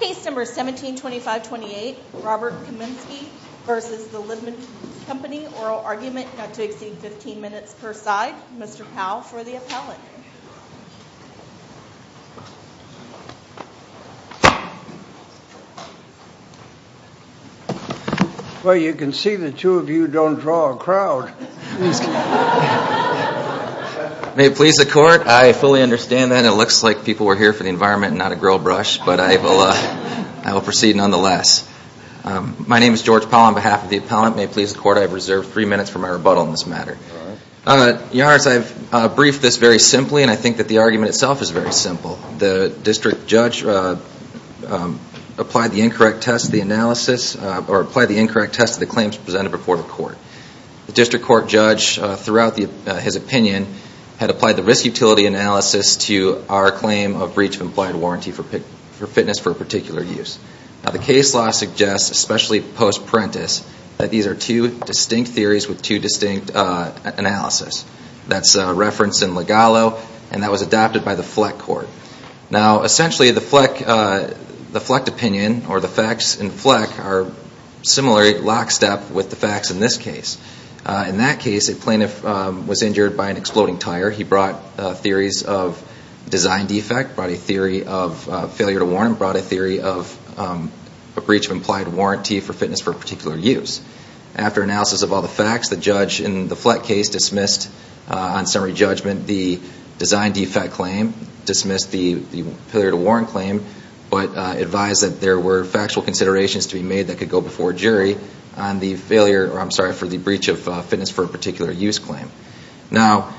Case number 172528, Robert Kaminski v. The Libman Company. Oral argument not to exceed 15 minutes per side. Mr. Powell for the appellate. Well you can see the two of you don't draw a crowd. May it please the court, I fully understand that. It looks like people were here for the environment and not a grill brush, but I will proceed nonetheless. My name is George Powell on behalf of the appellate. May it please the court, I have reserved three minutes for my rebuttal on this matter. Your Honor, I have briefed this very simply and I think that the argument itself is very simple. The district judge applied the incorrect test of the analysis, or applied the incorrect test of the claims presented before the court. The district court judge, throughout his opinion, had applied the risk utility analysis to our claim of breach of implied warranty for fitness for a particular use. Now the case law suggests, especially post-parentis, that these are two distinct theories with two distinct analysis. That's referenced in Legalo and that was adopted by the Fleck Court. Now essentially the Fleck opinion, or the facts in Fleck, are similar lockstep with the facts in this case. In that case, a plaintiff was injured by an exploding tire. He brought theories of design defect, brought a theory of failure to warrant, brought a theory of a breach of implied warranty for fitness for a particular use. After analysis of all the facts, the judge in the Fleck case dismissed, on summary judgment, the design defect claim, dismissed the failure to warrant claim, but advised that there were factual considerations to be made that could go before a jury on the failure, or I'm sorry, for the breach of fitness for a particular use claim. Now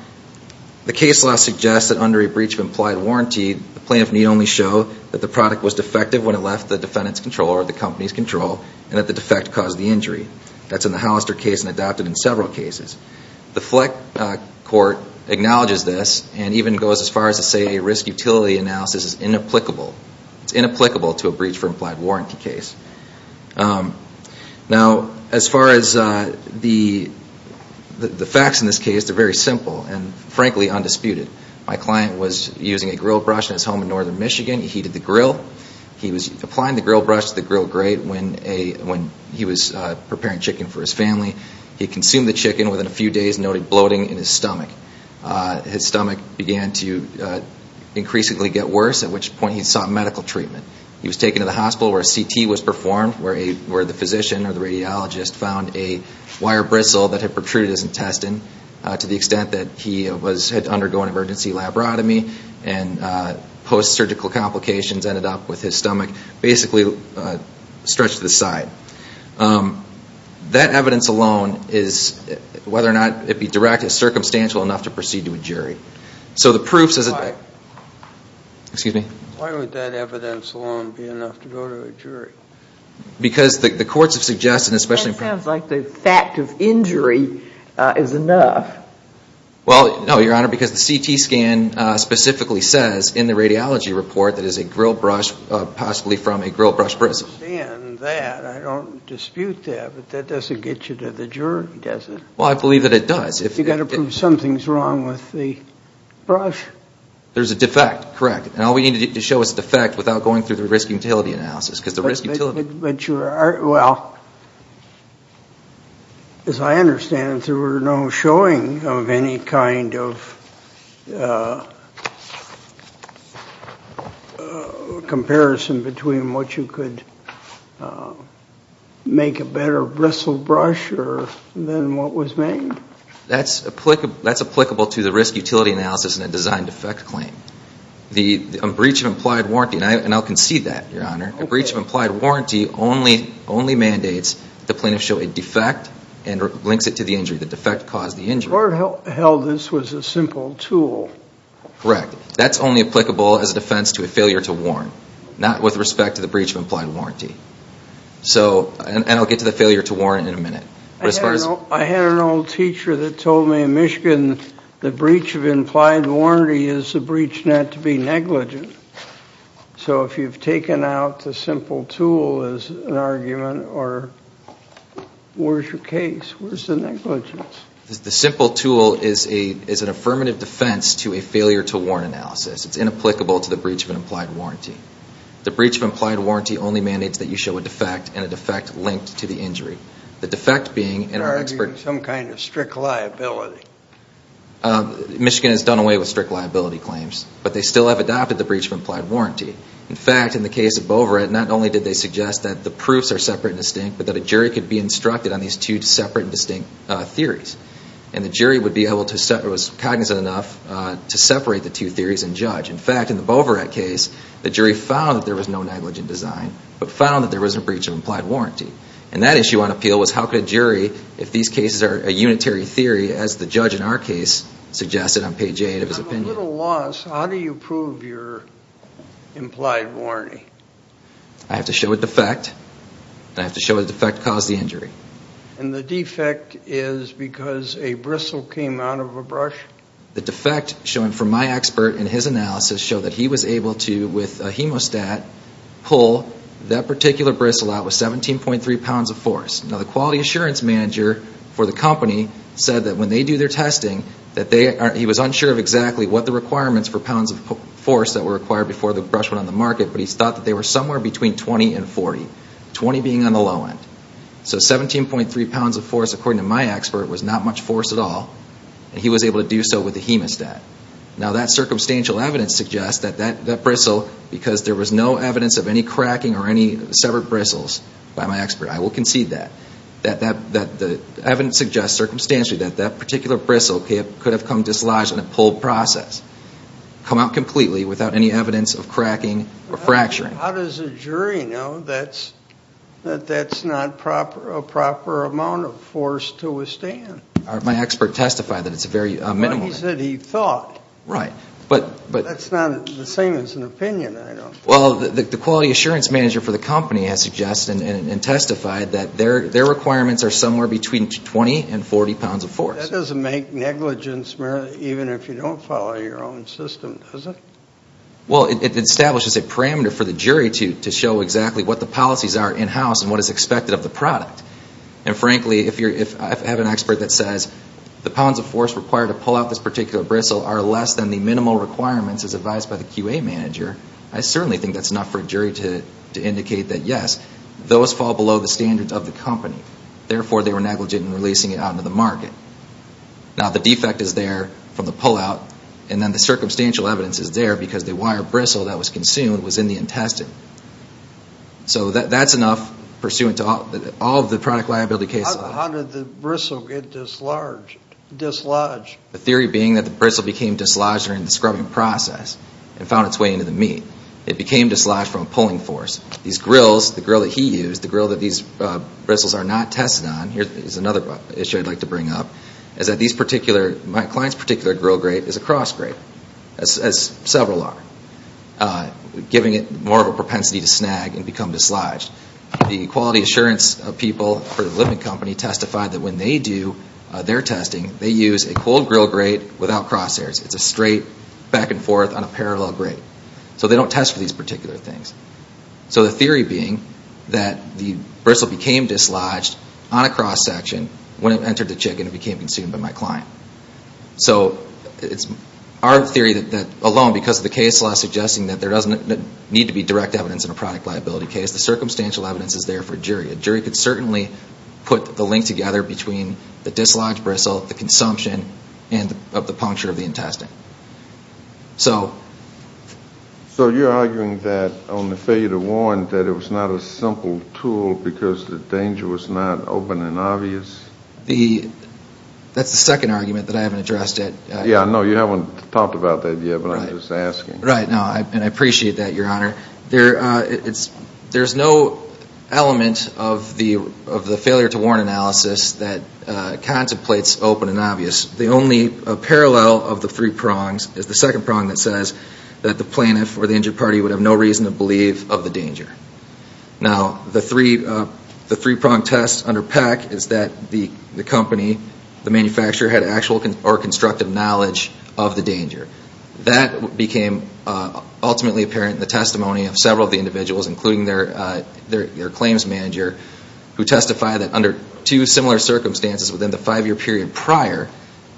the case law suggests that under a breach of implied warranty, the plaintiff need only show that the product was defective when it left the defendant's control, or the company's control, and that the defect caused the injury. That's in the Hollister case and adopted in several cases. The Fleck Court acknowledges this and even goes as far as to say a risk utility analysis is inapplicable. It's inapplicable to a breach of implied warranty case. Now as far as the facts in this case, they're very simple and frankly undisputed. My client was using a grill brush in his home in northern Michigan. He heated the grill. He was applying the grill brush to the grill grate when he was preparing chicken for his family. He consumed the chicken within a few days, noting bloating in his stomach. His stomach began to increasingly get worse, at which point he sought medical treatment. He was taken to the hospital where a CT was performed, where the physician or the radiologist found a wire bristle that had protruded his intestine to the extent that he had to undergo an emergency labrotomy. And post-surgical complications ended up with his stomach basically stretched to the side. That evidence alone is, whether or not it be direct, is circumstantial enough to proceed to a jury. So the proof says that... Why? Excuse me? Why would that evidence alone be enough to go to a jury? Because the courts have suggested, especially... That sounds like the fact of injury is enough. Well, no, Your Honor, because the CT scan specifically says in the radiology report that it is a grill brush, possibly from a grill brush bristle. I understand that. I don't dispute that. But that doesn't get you to the jury, does it? Well, I believe that it does. You've got to prove something's wrong with the brush. There's a defect, correct. And all we need to show is a defect without going through the risk-utility analysis, because the risk-utility... Well, as I understand it, there were no showing of any kind of comparison between what you could make a better bristle brush or than what was made. That's applicable to the risk-utility analysis and a design-defect claim. The breach of implied warranty, and I'll concede that, Your Honor. A breach of implied warranty only mandates the plaintiff show a defect and links it to the injury. The defect caused the injury. The court held this was a simple tool. Correct. That's only applicable as a defense to a failure to warn, not with respect to the breach of implied warranty. And I'll get to the failure to warn in a minute. I had an old teacher that told me in Michigan the breach of implied warranty is a breach not to be negligent. So if you've taken out the simple tool as an argument, where's your case? Where's the negligence? The simple tool is an affirmative defense to a failure to warn analysis. It's inapplicable to the breach of implied warranty. The breach of implied warranty only mandates that you show a defect and a defect linked to the injury. The defect being in an expert... They're arguing some kind of strict liability. Michigan has done away with strict liability claims. But they still have adopted the breach of implied warranty. In fact, in the case of Boverett, not only did they suggest that the proofs are separate and distinct, but that a jury could be instructed on these two separate and distinct theories. And the jury was cognizant enough to separate the two theories and judge. In fact, in the Boverett case, the jury found that there was no negligent design but found that there was a breach of implied warranty. And that issue on appeal was how could a jury, if these cases are a unitary theory, as the judge in our case suggested on page 8 of his opinion. With a little loss, how do you prove your implied warranty? I have to show a defect. And I have to show a defect caused the injury. And the defect is because a bristle came out of a brush? The defect shown from my expert in his analysis showed that he was able to, with a hemostat, pull that particular bristle out with 17.3 pounds of force. Now the quality assurance manager for the company said that when they do their testing, that he was unsure of exactly what the requirements for pounds of force that were required before the brush went on the market, but he thought that they were somewhere between 20 and 40, 20 being on the low end. So 17.3 pounds of force, according to my expert, was not much force at all. And he was able to do so with a hemostat. Now that circumstantial evidence suggests that that bristle, because there was no evidence of any cracking or any severed bristles by my expert, I will concede that, that the evidence suggests circumstantially that that particular bristle could have come dislodged in a pull process, come out completely without any evidence of cracking or fracturing. How does a jury know that that's not a proper amount of force to withstand? My expert testified that it's a very minimal amount. But he said he thought. Right. That's not the same as an opinion, I don't think. Well, the quality assurance manager for the company has suggested and testified that their requirements are somewhere between 20 and 40 pounds of force. That doesn't make negligence, even if you don't follow your own system, does it? Well, it establishes a parameter for the jury to show exactly what the policies are in-house and what is expected of the product. And, frankly, if I have an expert that says the pounds of force required to pull out this particular bristle are less than the minimal requirements as advised by the QA manager, those fall below the standards of the company. Therefore, they were negligent in releasing it out into the market. Now, the defect is there from the pullout, and then the circumstantial evidence is there because the wire bristle that was consumed was in the intestine. So that's enough pursuant to all of the product liability cases. How did the bristle get dislodged? The theory being that the bristle became dislodged during the scrubbing process and found its way into the meat. It became dislodged from a pulling force. These grills, the grill that he used, the grill that these bristles are not tested on, here is another issue I'd like to bring up, is that these particular, my client's particular grill grate is a cross grate, as several are, giving it more of a propensity to snag and become dislodged. The quality assurance people for the living company testified that when they do their testing, they use a cold grill grate without cross hairs. It's a straight back and forth on a parallel grate. So they don't test for these particular things. So the theory being that the bristle became dislodged on a cross section when it entered the chicken and became consumed by my client. So it's our theory that alone, because of the case law suggesting that there doesn't need to be direct evidence in a product liability case, the circumstantial evidence is there for a jury. A jury could certainly put the link together between the dislodged bristle, the consumption, and the puncture of the intestine. So you're arguing that on the failure to warn, that it was not a simple tool because the danger was not open and obvious? That's the second argument that I haven't addressed yet. Yeah, no, you haven't talked about that yet, but I'm just asking. Right, and I appreciate that, Your Honor. There's no element of the failure to warn analysis that contemplates open and obvious. The only parallel of the three prongs is the second prong that says that the plaintiff or the injured party would have no reason to believe of the danger. Now, the three prong test under Peck is that the company, the manufacturer, had actual or constructive knowledge of the danger. That became ultimately apparent in the testimony of several of the individuals, including their claims manager, who testified that under two similar circumstances within the five-year period prior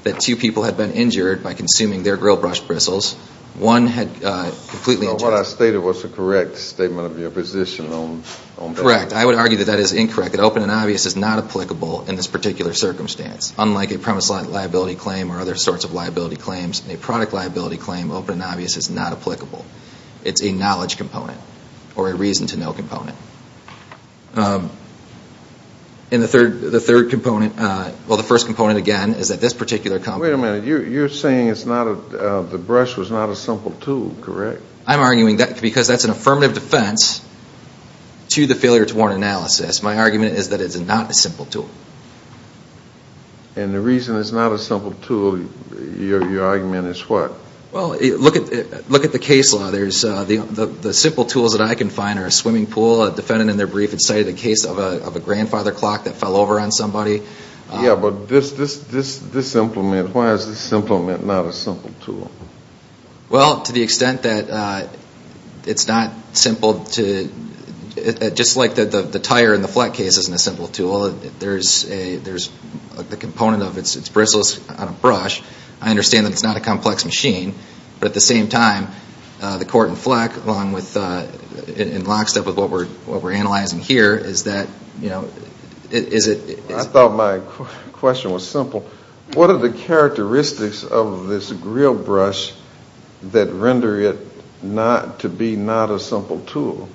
that two people had been injured by consuming their grill brush bristles, one had completely injured. Now, what I stated was the correct statement of your position on Peck. Correct. I would argue that that is incorrect, that open and obvious is not applicable in this particular circumstance. Unlike a premise liability claim or other sorts of liability claims, a product liability claim, open and obvious is not applicable. It's a knowledge component or a reason to know component. And the third component, well, the first component, again, is that this particular company Wait a minute. You're saying the brush was not a simple tool, correct? I'm arguing that because that's an affirmative defense to the failure to warn analysis. My argument is that it's not a simple tool. And the reason it's not a simple tool, your argument is what? Well, look at the case law. The simple tools that I can find are a swimming pool. A defendant in their brief had cited a case of a grandfather clock that fell over on somebody. Yeah, but this implement, why is this implement not a simple tool? Well, to the extent that it's not simple to, just like the tire in the flat case isn't a simple tool, there's the component of its bristles on a brush. I understand that it's not a complex machine. But at the same time, the court in FLEC along with, in lockstep with what we're analyzing here, is that, you know, is it I thought my question was simple. What are the characteristics of this grill brush that render it to be not a simple tool?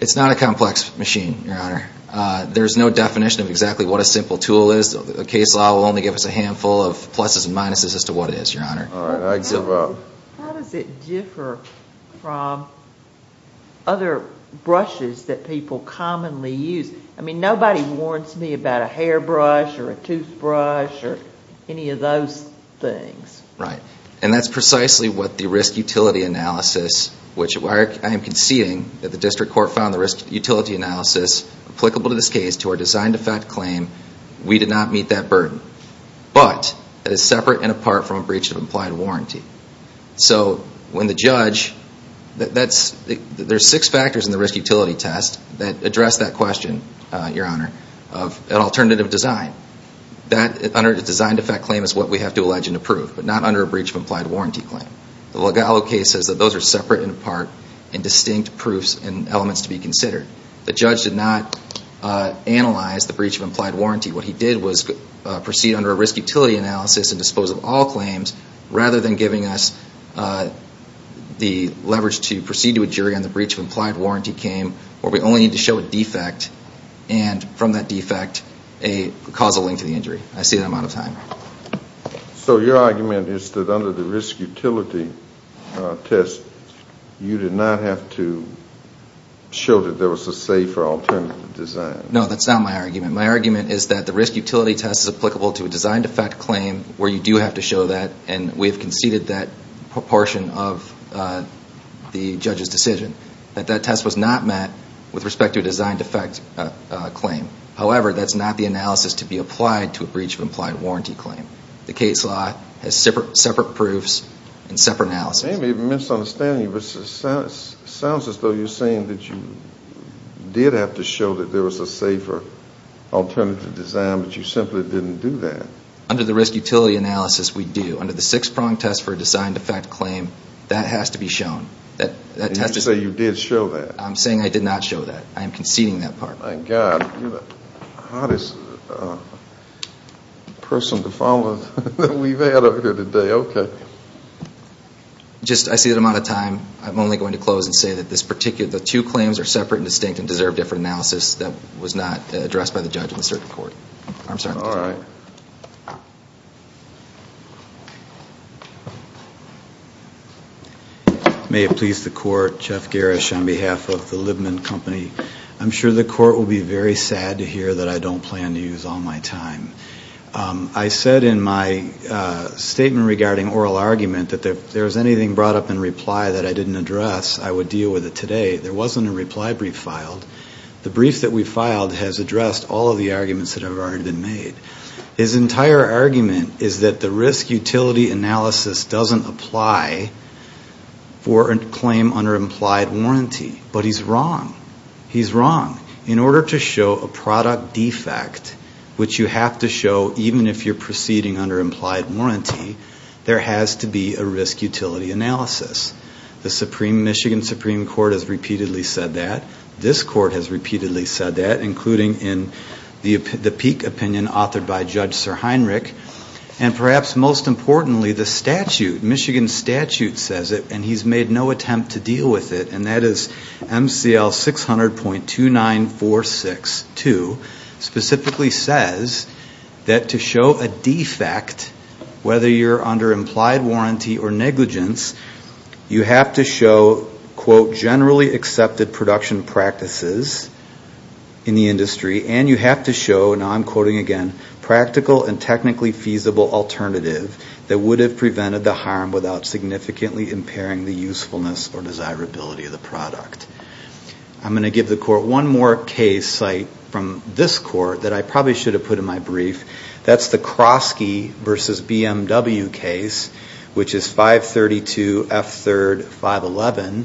It's not a complex machine, your honor. There's no definition of exactly what a simple tool is. The case law will only give us a handful of pluses and minuses as to what it is, your honor. All right, I give up. How does it differ from other brushes that people commonly use? I mean, nobody warns me about a hairbrush or a toothbrush or any of those things. Right. And that's precisely what the risk utility analysis, which I am conceding that the district court found the risk utility analysis applicable to this case to our design defect claim, we did not meet that burden. But it is separate and apart from a breach of implied warranty. So when the judge, there's six factors in the risk utility test that address that question, your honor, of an alternative design. That under a design defect claim is what we have to allege and approve, but not under a breach of implied warranty claim. The Legallo case says that those are separate and apart and distinct proofs and elements to be considered. The judge did not analyze the breach of implied warranty. What he did was proceed under a risk utility analysis and dispose of all claims rather than giving us the leverage to proceed to a jury on the breach of implied warranty claim where we only need to show a defect and from that defect a causal link to the injury. I see that amount of time. So your argument is that under the risk utility test, you did not have to show that there was a safer alternative design. No, that's not my argument. My argument is that the risk utility test is applicable to a design defect claim where you do have to show that and we have conceded that proportion of the judge's decision. That that test was not met with respect to a design defect claim. However, that's not the analysis to be applied to a breach of implied warranty claim. The case law has separate proofs and separate analysis. It may be a misunderstanding, but it sounds as though you're saying that you did have to show that there was a safer alternative design, but you simply didn't do that. Under the risk utility analysis, we do. Under the six-prong test for a design defect claim, that has to be shown. And you say you did show that. I'm saying I did not show that. I am conceding that part. My God, you're the hottest person to follow that we've had over here today. Okay. Just, I see the amount of time. I'm only going to close and say that this particular, the two claims are separate and distinct and deserve different analysis that was not addressed by the judge in the circuit court. I'm sorry. All right. May it please the court, Jeff Garrish on behalf of the Libman Company. I'm sure the court will be very sad to hear that I don't plan to use all my time. I said in my statement regarding oral argument that if there was anything brought up in reply that I didn't address, I would deal with it today. There wasn't a reply brief filed. The brief that we filed has addressed all of the arguments that have already been made. His entire argument is that the risk utility analysis doesn't apply for a claim under implied warranty. But he's wrong. He's wrong. In order to show a product defect, which you have to show even if you're proceeding under implied warranty, there has to be a risk utility analysis. The Michigan Supreme Court has repeatedly said that. This court has repeatedly said that, including in the Peek opinion authored by Judge Sir Heinrich. And perhaps most importantly, the statute, Michigan statute says it, and he's made no attempt to deal with it. And that is MCL 600.29462 specifically says that to show a defect, whether you're under implied warranty or negligence, you have to show, quote, generally accepted production practices in the industry, and you have to show, and I'm quoting again, practical and technically feasible alternative that would have prevented the harm without significantly impairing the usefulness or desirability of the product. I'm going to give the court one more case site from this court that I probably should have put in my brief. That's the Krosky v. BMW case, which is 532F3-511.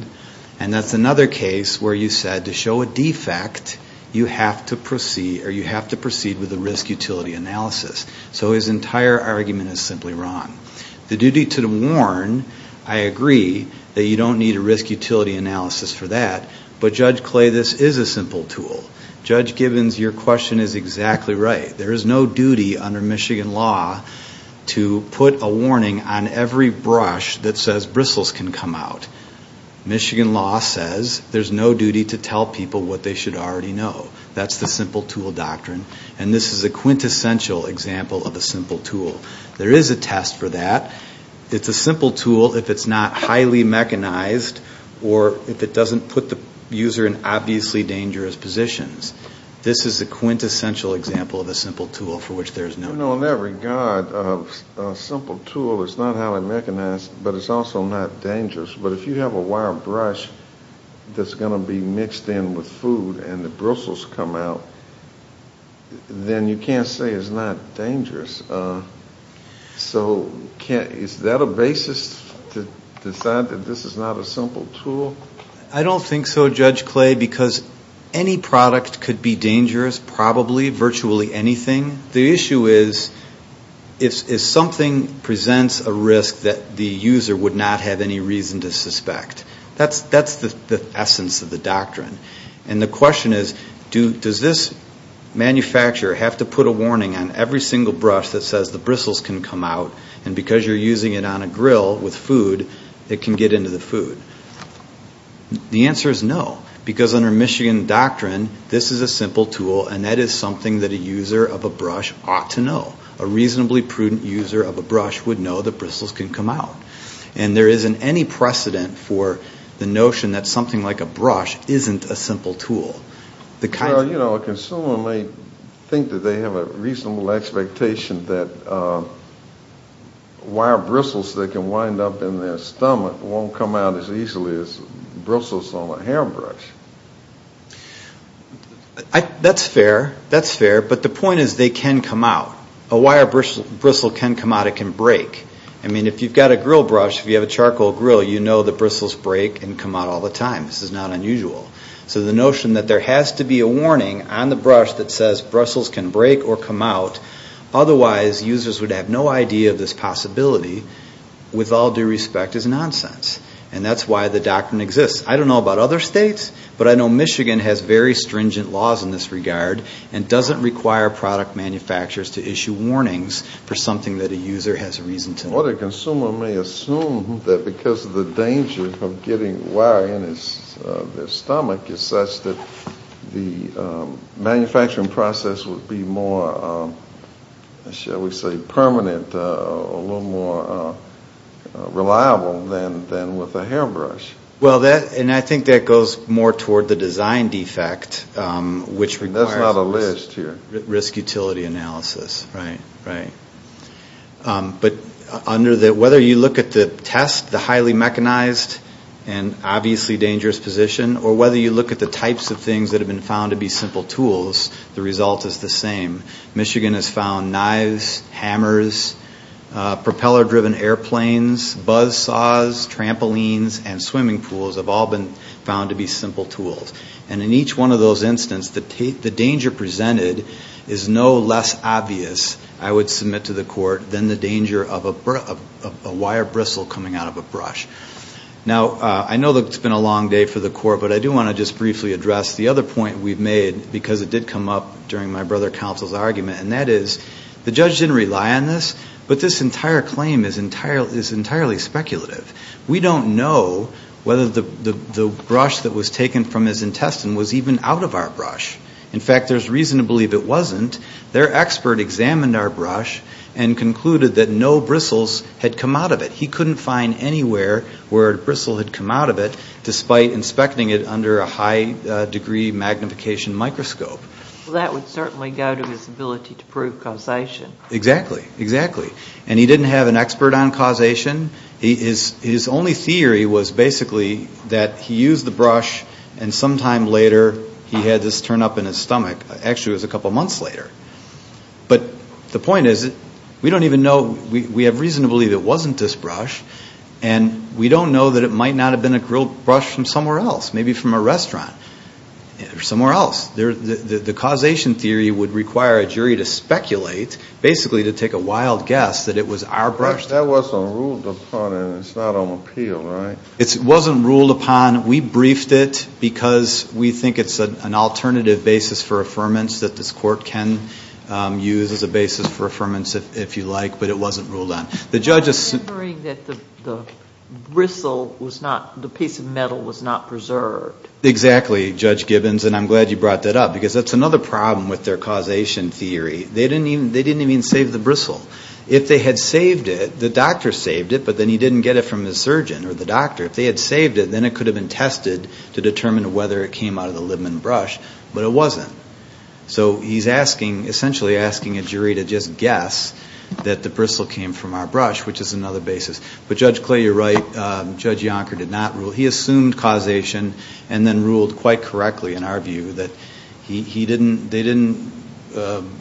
And that's another case where you said to show a defect, you have to proceed with a risk utility analysis. So his entire argument is simply wrong. The duty to warn, I agree that you don't need a risk utility analysis for that. But, Judge Clay, this is a simple tool. Judge Gibbons, your question is exactly right. There is no duty under Michigan law to put a warning on every brush that says bristles can come out. Michigan law says there's no duty to tell people what they should already know. That's the simple tool doctrine. And this is a quintessential example of a simple tool. There is a test for that. It's a simple tool if it's not highly mechanized or if it doesn't put the user in obviously dangerous positions. This is a quintessential example of a simple tool for which there is no duty. You know, in that regard, a simple tool is not highly mechanized, but it's also not dangerous. But if you have a wire brush that's going to be mixed in with food and the bristles come out, then you can't say it's not dangerous. So is that a basis to decide that this is not a simple tool? I don't think so, Judge Clay, because any product could be dangerous, probably virtually anything. The issue is if something presents a risk that the user would not have any reason to suspect. That's the essence of the doctrine. And the question is, does this manufacturer have to put a warning on every single brush that says the bristles can come out, and because you're using it on a grill with food, it can get into the food? The answer is no, because under Michigan doctrine, this is a simple tool, and that is something that a user of a brush ought to know. A reasonably prudent user of a brush would know that bristles can come out. And there isn't any precedent for the notion that something like a brush isn't a simple tool. A consumer may think that they have a reasonable expectation that wire bristles that can wind up in their stomach won't come out as easily as bristles on a hairbrush. That's fair. That's fair, but the point is they can come out. A wire bristle can come out. It can break. I mean, if you've got a grill brush, if you have a charcoal grill, you know the bristles break and come out all the time. This is not unusual. So the notion that there has to be a warning on the brush that says bristles can break or come out, otherwise users would have no idea of this possibility, with all due respect, is nonsense. And that's why the doctrine exists. I don't know about other states, but I know Michigan has very stringent laws in this regard and doesn't require product manufacturers to issue warnings for something that a user has a reason to. Or the consumer may assume that because of the danger of getting wire in their stomach, it's such that the manufacturing process would be more, shall we say, permanent, a little more reliable than with a hairbrush. Well, and I think that goes more toward the design defect, which requires risk utility analysis. Right, right. But whether you look at the test, the highly mechanized and obviously dangerous position, or whether you look at the types of things that have been found to be simple tools, the result is the same. Michigan has found knives, hammers, propeller-driven airplanes, buzz saws, trampolines, and swimming pools have all been found to be simple tools. And in each one of those instances, the danger presented is no less obvious, I would submit to the court, than the danger of a wire bristle coming out of a brush. Now, I know that it's been a long day for the court, but I do want to just briefly address the other point we've made, because it did come up during my brother counsel's argument, and that is the judge didn't rely on this, but this entire claim is entirely speculative. We don't know whether the brush that was taken from his intestine was even out of our brush. In fact, there's reason to believe it wasn't. Their expert examined our brush and concluded that no bristles had come out of it. He couldn't find anywhere where a bristle had come out of it, despite inspecting it under a high-degree magnification microscope. Well, that would certainly go to his ability to prove causation. Exactly, exactly. And he didn't have an expert on causation. His only theory was basically that he used the brush, and sometime later he had this turn up in his stomach. Actually, it was a couple months later. But the point is, we don't even know. We have reason to believe it wasn't this brush, and we don't know that it might not have been a grilled brush from somewhere else, maybe from a restaurant or somewhere else. The causation theory would require a jury to speculate, basically to take a wild guess, that it was our brush. That wasn't ruled upon, and it's not on appeal, right? It wasn't ruled upon. We briefed it because we think it's an alternative basis for affirmance that this Court can use as a basis for affirmance, if you like, but it wasn't ruled on. I'm remembering that the bristle was not, the piece of metal was not preserved. Exactly, Judge Gibbons, and I'm glad you brought that up, because that's another problem with their causation theory. They didn't even save the bristle. If they had saved it, the doctor saved it, but then he didn't get it from the surgeon or the doctor. If they had saved it, then it could have been tested to determine whether it came out of the Libman brush, but it wasn't. So he's asking, essentially asking a jury to just guess that the bristle came from our brush, which is another basis. But Judge Clay, you're right, Judge Yonker did not rule. He assumed causation and then ruled quite correctly, in our view, that they didn't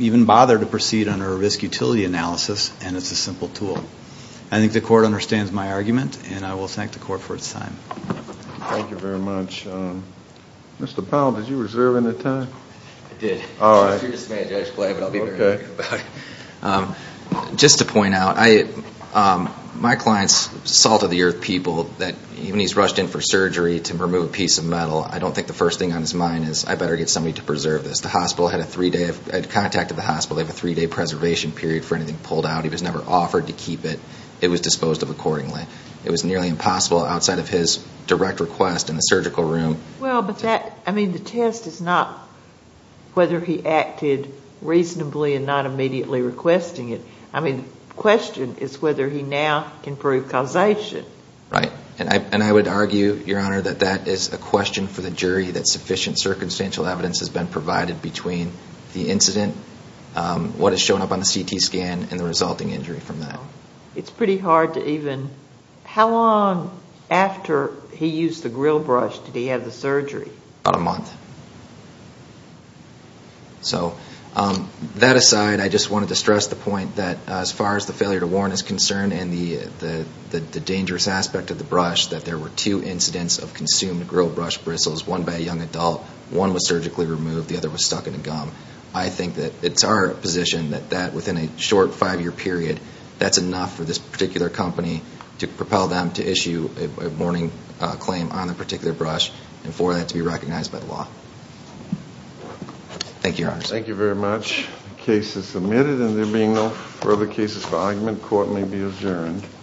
even bother to proceed under a risk-utility analysis, and it's a simple tool. I think the Court understands my argument, and I will thank the Court for its time. Thank you very much. Mr. Powell, did you reserve any time? I did. All right. Okay. Just to point out, my client's salt-of-the-earth people, even when he's rushed in for surgery to remove a piece of metal, I don't think the first thing on his mind is, I better get somebody to preserve this. The hospital had a three-day preservation period for anything pulled out. He was never offered to keep it. It was disposed of accordingly. It was nearly impossible outside of his direct request in the surgical room. Well, but that, I mean, the test is not whether he acted reasonably and not immediately requesting it. I mean, the question is whether he now can prove causation. Right. And I would argue, Your Honor, that that is a question for the jury, that sufficient circumstantial evidence has been provided between the incident, what has shown up on the CT scan, and the resulting injury from that. It's pretty hard to even, how long after he used the grill brush did he have the surgery? About a month. So that aside, I just wanted to stress the point that as far as the failure to warn is concerned and the dangerous aspect of the brush, that there were two incidents of consumed grill brush bristles, one by a young adult, one was surgically removed, the other was stuck in a gum. I think that it's our position that that, within a short five-year period, that's enough for this particular company to propel them to issue a warning claim on a particular brush and for that to be recognized by the law. Thank you, Your Honor. Thank you very much. The case is submitted and there being no further cases for argument, court may be adjourned.